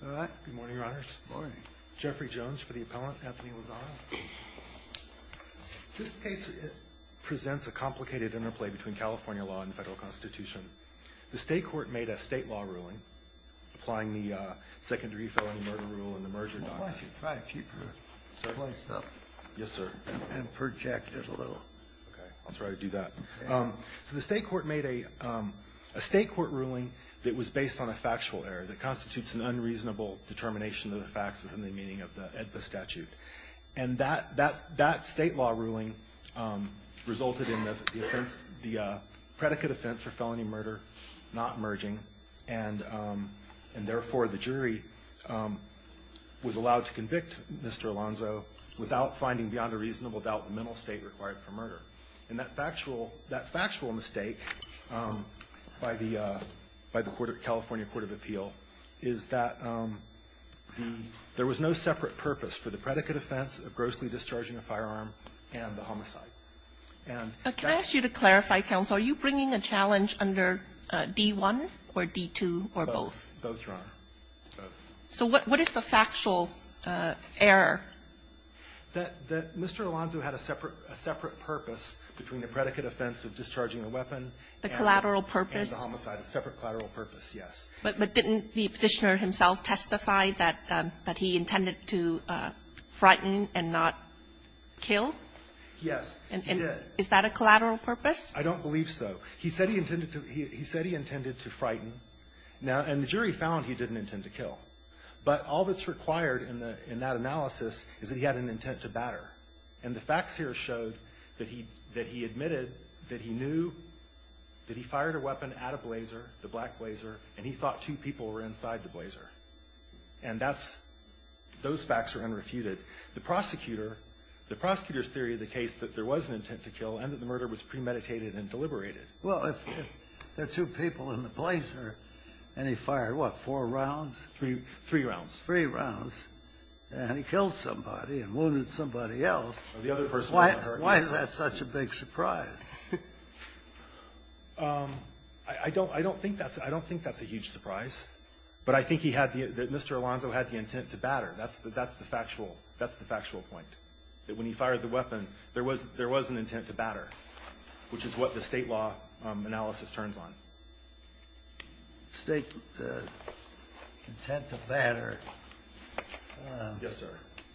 Good morning, Your Honors. Good morning. Jeffrey Jones for the appellant, Anthony Lozano. This case presents a complicated interplay between California law and the federal constitution. The state court made a state law ruling, applying the secondary felony murder rule and the merger doctrine. Why don't you try to keep your voice up. Yes, sir. And project it a little. Okay, I'll try to do that. So the state court made a state court ruling that was based on a fact and factual error that constitutes an unreasonable determination of the facts within the meaning of the statute. And that state law ruling resulted in the offense, the predicate offense for felony murder not merging. And therefore, the jury was allowed to convict Mr. Alonzo without finding beyond a reasonable doubt the mental state required for murder. And that factual mistake by the California court of appeal is that there was no separate purpose for the predicate offense of grossly discharging a firearm and the homicide. And that's the reason why the state court ruled that Mr. Alonzo had a separate purpose. Are you bringing a challenge under D-1 or D-2 or both? Both, Your Honor. Both. So what is the factual error? That Mr. Alonzo had a separate purpose between the predicate offense of discharging a weapon and the homicide, a separate collateral purpose, yes. But didn't the Petitioner himself testify that he intended to frighten and not kill? Yes, he did. Is that a collateral purpose? I don't believe so. He said he intended to frighten. And the jury found he didn't intend to kill. But all that's required in that analysis is that he had an intent to batter. And the facts here showed that he admitted that he knew that he fired a weapon at a blazer, the black blazer, and he thought two people were inside the blazer. And that's those facts are unrefuted. The prosecutor's theory of the case that there was an intent to kill and that the murder was premeditated and deliberated. Well, if there are two people in the blazer and he fired, what, four rounds? Three rounds. Three rounds. And he killed somebody and wounded somebody else. The other person wasn't hurt. Why is that such a big surprise? I don't think that's a huge surprise. But I think he had the Mr. Alonzo had the intent to batter. That's the factual point, that when he fired the weapon, there was an intent to batter, which is what the State law analysis turns on. State intent to batter. Yes, sir.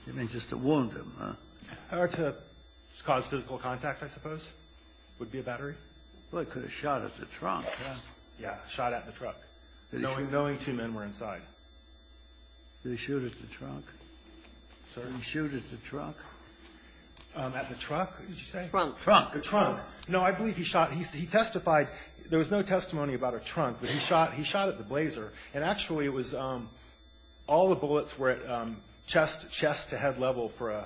You mean just to wound him, huh? Or to cause physical contact, I suppose, would be a battery. Well, he could have shot at the trunk. Yeah. Yeah. Shot at the truck, knowing two men were inside. Did he shoot at the trunk? Sir? Did he shoot at the trunk? At the truck, did you say? Trunk. Trunk. The trunk. No, I believe he shot. He testified, there was no testimony about a trunk, but he shot at the blazer. And actually, it was all the bullets were at chest to head level for a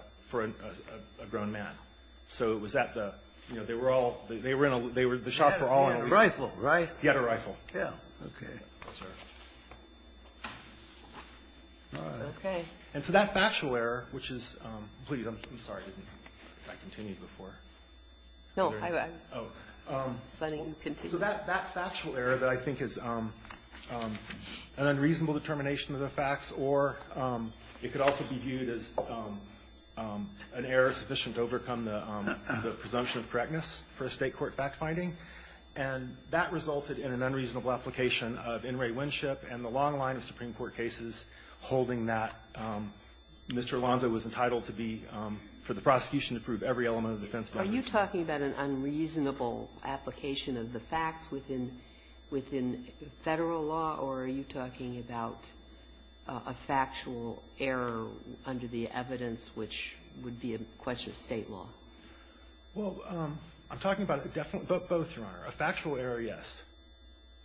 grown man. So it was at the, you know, they were all, the shots were all on him. He had a rifle, right? He had a rifle. Yeah. OK. That's right. All right. OK. And so that factual error, which is, please, I'm sorry if I continued before. No, I was. Just letting you continue. So that factual error that I think is an unreasonable determination of the facts, or it could also be viewed as an error sufficient to overcome the presumption of correctness for a State court fact-finding. And that resulted in an unreasonable application of In re Winship and the long line of Supreme Court cases holding that Mr. Alonzo was entitled to be, for the prosecution to prove every element of the defense. Are you talking about an unreasonable application of the facts within federal law, or are you talking about a factual error under the evidence, which would be a question of State law? Well, I'm talking about both, Your Honor. A factual error, yes.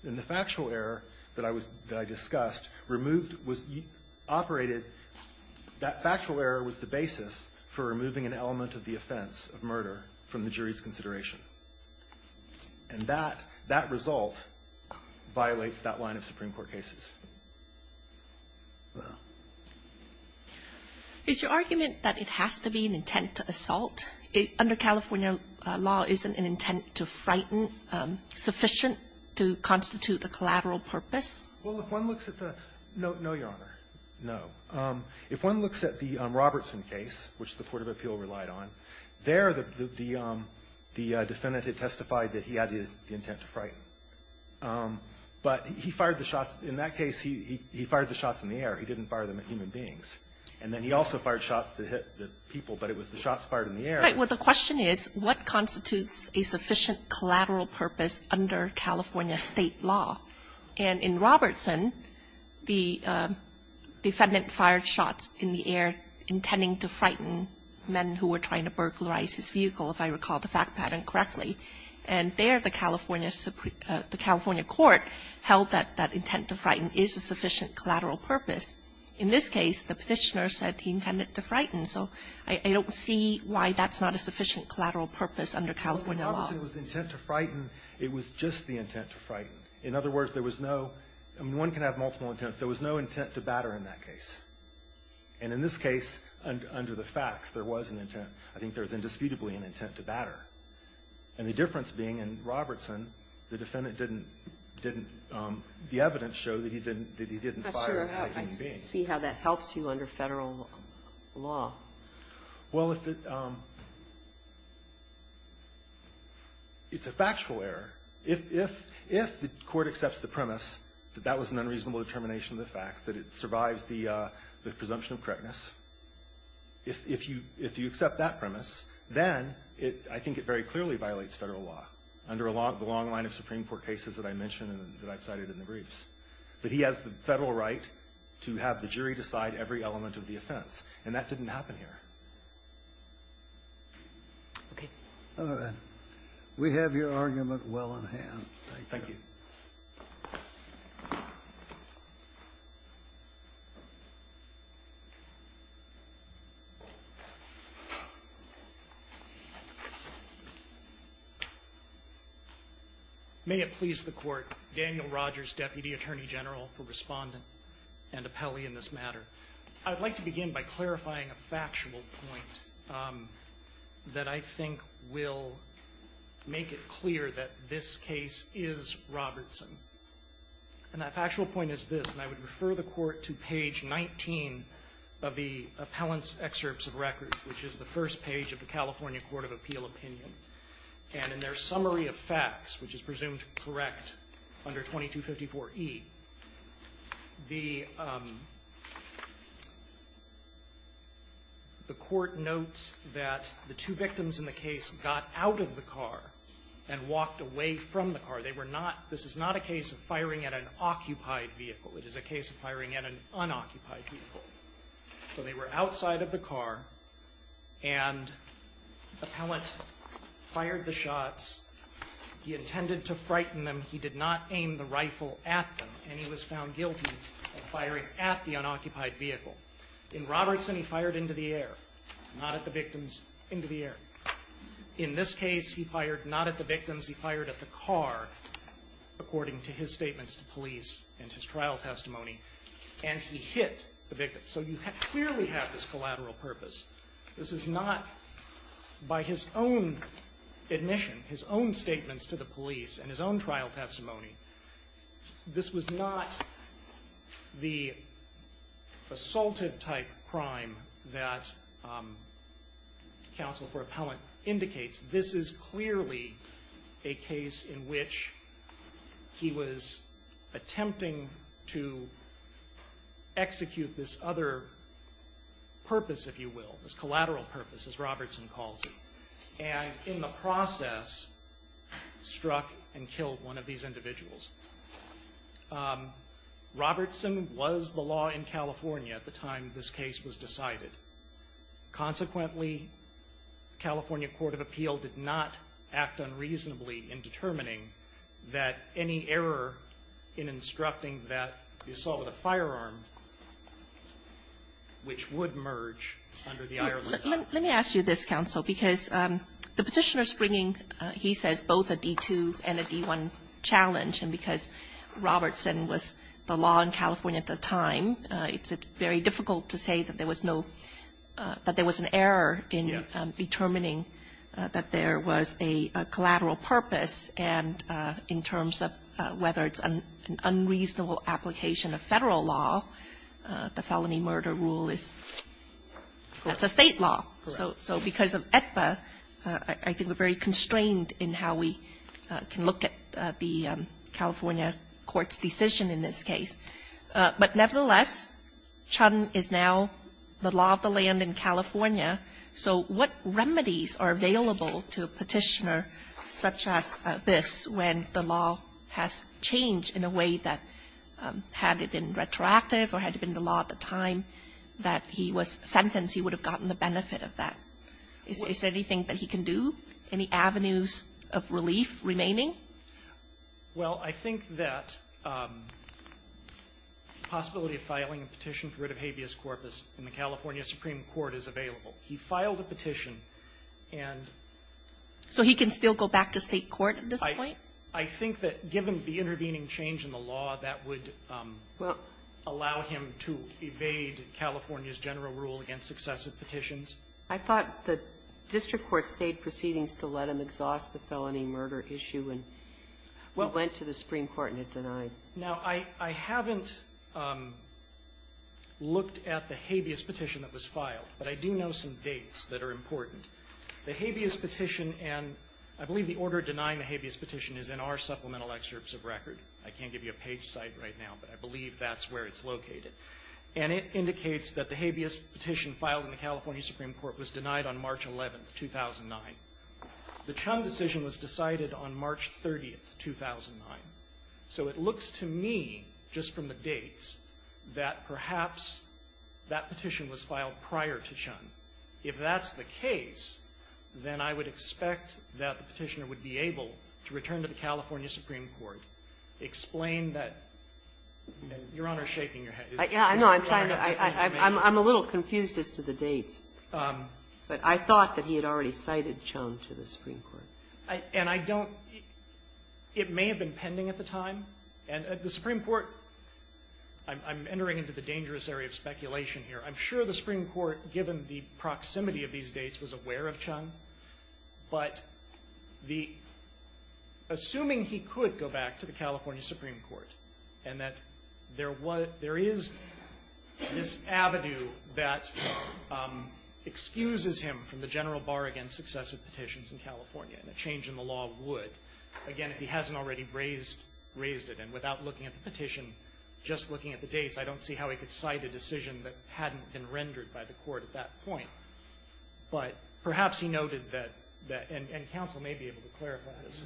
And the factual error that I discussed removed, operated, that factual error was the basis for removing an element of the offense of murder from the jury's consideration. And that result violates that line of Supreme Court cases. Is your argument that it has to be an intent to assault? Under California law, isn't an intent to frighten sufficient to constitute a collateral purpose? Well, if one looks at the no, Your Honor, no. If one looks at the Robertson case, which the court of appeal relied on, there the defendant had testified that he had the intent to frighten. But he fired the shots. In that case, he fired the shots in the air. He didn't fire them at human beings. And then he also fired shots that hit the people, but it was the shots fired in the air. Right. Well, the question is, what constitutes a sufficient collateral purpose under California State law? And in Robertson, the defendant fired shots in the air intending to frighten men who were trying to burglarize his vehicle, if I recall the fact pattern correctly. And there the California Supreme the California court held that that intent to frighten is a sufficient collateral purpose. In this case, the Petitioner said he intended to frighten. So I don't see why that's not a sufficient collateral purpose under California law. Robertson was intent to frighten. It was just the intent to frighten. In other words, there was no one can have multiple intents. There was no intent to batter in that case. And in this case, under the facts, there was an intent. I think there's indisputably an intent to batter. And the difference being in Robertson, the defendant didn't didn't the evidence show that he didn't that he didn't fire at a human being. I see how that helps you under Federal law. Well, if it's a factual error. If if if the court accepts the premise that that was an unreasonable determination of the facts, that it survives the the presumption of correctness, if if you if you accept that premise, then it I think it very clearly violates Federal law under the long line of Supreme Court cases that I mentioned that I've cited in the briefs. But he has the Federal right to have the jury decide every element of the offense. And that didn't happen here. Okay. All right. We have your argument well in hand. Thank you. May it please the Court. Daniel Rogers, Deputy Attorney General for Respondent and Appellee in this matter. I'd like to begin by clarifying a factual point that I think will make it clear that this case is Robertson. And that factual point is this. And I would refer the Court to page 19 of the appellant's excerpts of record, which is the first page of the California Court of Appeal opinion. And in their excerpts, the Court notes that the two victims in the case got out of the car and walked away from the car. They were not, this is not a case of firing at an occupied vehicle. It is a case of firing at an unoccupied vehicle. So they were outside of the car, and the appellant fired the shots. He intended to frighten them. He did not aim the rifle at them. And he was found guilty of firing at the unoccupied vehicle. In Robertson, he fired into the air, not at the victims, into the air. In this case, he fired not at the victims. He fired at the car, according to his statements to police and his trial testimony. And he hit the victim. So you clearly have this collateral purpose. This is not, by his own admission, his own statements to the police and his own trial testimony, this was not the assaultive-type crime that counsel for appellant indicates. This is clearly a case in which he was attempting to execute this other purpose, if you will, this collateral purpose, as Robertson calls it. And in the process, struck and killed one of these two people in California at the time this case was decided. Consequently, California Court of Appeal did not act unreasonably in determining that any error in instructing that the assault with a firearm, which would merge under the Ireland law. Kagan. Let me ask you this, counsel, because the Petitioner is bringing, he says, both a D-2 and a D-1 challenge. And because Robertson was the law in California at the time, it's very difficult to say that there was no – that there was an error in determining that there was a collateral purpose. And in terms of whether it's an unreasonable application of Federal law, the felony murder rule is – that's a State law. Correct. So because of AEDPA, I think we're very constrained in how we can look at the California Court's decision in this case. But nevertheless, Chun is now the law of the land in California. So what remedies are available to a Petitioner such as this when the law has changed in a way that, had it been retroactive or had it been the law at the time that he was sentenced, he would have gotten the benefit of that? Is there anything that he can do? Any avenues of relief remaining? Well, I think that the possibility of filing a petition for writ of habeas corpus in the California Supreme Court is available. He filed a petition, and – So he can still go back to State court at this point? I think that, given the intervening change in the law, that would allow him to evade California's general rule against successive petitions. I thought the district court State proceedings to let him exhaust the felony murder issue, and he went to the Supreme Court and it denied. Now, I haven't looked at the habeas petition that was filed, but I do know some dates that are important. The habeas petition, and I believe the order denying the habeas petition is in our supplemental excerpts of record. I can't give you a page site right now, but I believe that's where it's located. And it indicates that the habeas petition was filed on March 30th, 2009. So it looks to me, just from the dates, that perhaps that petition was filed prior to Chun. If that's the case, then I would expect that the Petitioner would be able to return to the California Supreme Court, explain that – Your Honor is shaking your head. Is it prior to that date? I know. I'm trying to – I'm a little confused as to the dates. But I thought that he had already cited Chun to the Supreme Court. And I don't – it may have been pending at the time. And the Supreme Court – I'm entering into the dangerous area of speculation here. I'm sure the Supreme Court, given the proximity of these dates, was aware of Chun. But the – assuming he could go back to the California Supreme Court, and that there was – there is this avenue that excuses him from the general bar against successive petitions in California. And a change in the law would. Again, if he hasn't already raised – raised it. And without looking at the petition, just looking at the dates, I don't see how he could cite a decision that hadn't been rendered by the court at that point. But perhaps he noted that – and counsel may be able to clarify this.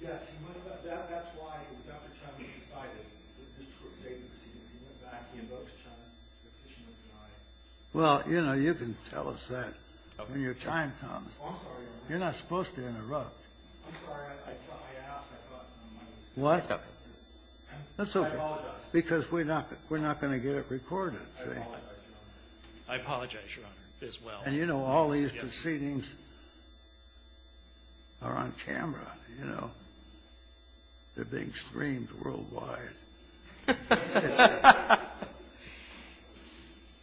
Yes. He went about – that's why it was after Chun was decided that this court save the proceedings. He went back. He invoked Chun. The petition was denied. Well, you know, you can tell us that when your time comes. Oh, I'm sorry, Your Honor. You're not supposed to interrupt. I'm sorry. I thought I asked. I thought my mic was set up. What? I apologize. Because we're not going to get it recorded, see? I apologize, Your Honor. I apologize, Your Honor, as well. And you know all these proceedings are on camera, you know. They're being streamed worldwide.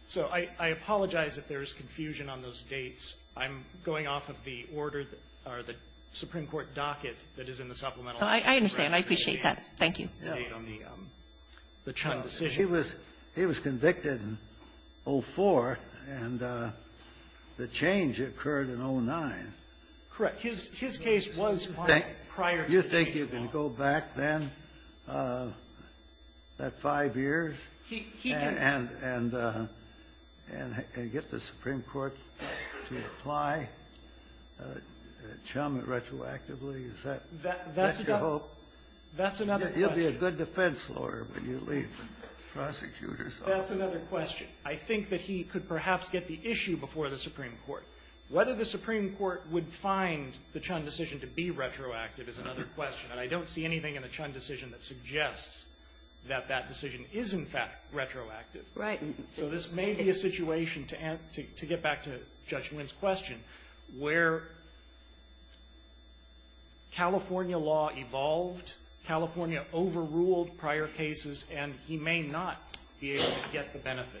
So I apologize if there's confusion on those dates. I'm going off of the order that – or the Supreme Court docket that is in the Supplemental Act. I understand. I appreciate that. Thank you. He was convicted in 04, and the change occurred in 09. Correct. His case was prior to that. Do you think you can go back then, that five years, and get the Supreme Court to apply Chun retroactively? Is that your hope? That's another question. You'll be a good defense lawyer when you leave the prosecutor's office. That's another question. I think that he could perhaps get the issue before the Supreme Court. Whether the Supreme Court would find the Chun decision to be retroactive is another question. And I don't see anything in the Chun decision that suggests that that decision is, in fact, retroactive. Right. So this may be a situation, to get back to Judge Wynn's question, where California law evolved, California overruled prior cases, and he may not be able to get the benefit.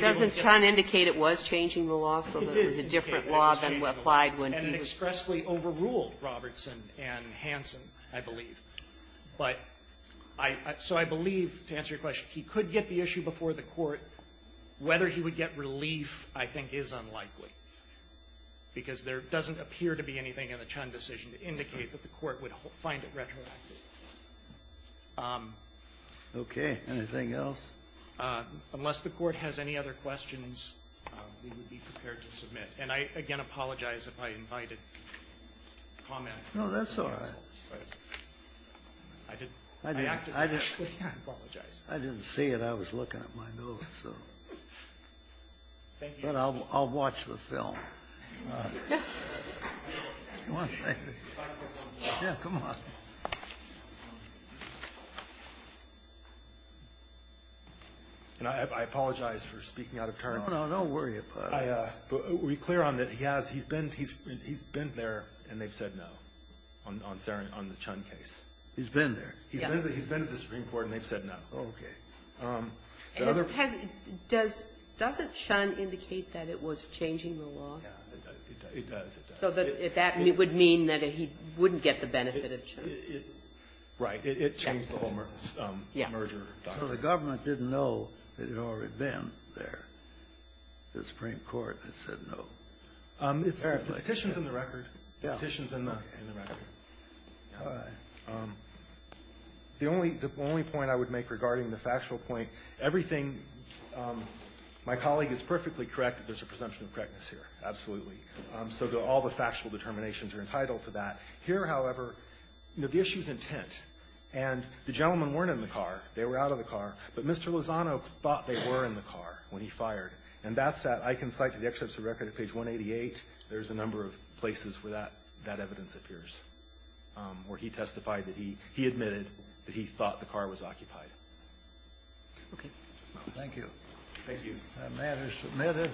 Doesn't Chun indicate it was changing the law so that it was a different law than what applied when he was convicted? He overruled Robertson and Hansen, I believe. But I so I believe, to answer your question, he could get the issue before the Court. Whether he would get relief, I think, is unlikely, because there doesn't appear to be anything in the Chun decision to indicate that the Court would find it retroactive. Okay. Anything else? Unless the Court has any other questions, we would be prepared to submit. And I, again, apologize if I invited comment. No, that's all right. I didn't see it. I was looking at my notes. But I'll watch the film. Yeah, come on. I apologize for speaking out of turn. No, no, don't worry about it. I, were you clear on that he has, he's been, he's been there, and they've said no on the Chun case. He's been there. He's been to the Supreme Court, and they've said no. Okay. Does it Chun indicate that it was changing the law? It does. So that would mean that he wouldn't get the benefit of Chun. Right. It changed the whole merger doctrine. So the government didn't know that it had already been there. The Supreme Court had said no. It's the petitions in the record. The petitions in the record. The only point I would make regarding the factual point, everything, my colleague is perfectly correct that there's a presumption of correctness here. Absolutely. So all the factual determinations are entitled to that. Here, however, the issue's intent. And the gentlemen weren't in the car. They were out of the car. But Mr. Lozano thought they were in the car when he fired. And that's that. I can cite to the exception of record at page 188, there's a number of places where that, that evidence appears, where he testified that he, he admitted that he thought the car was occupied. Okay. Thank you. Thank you. That matter is submitted.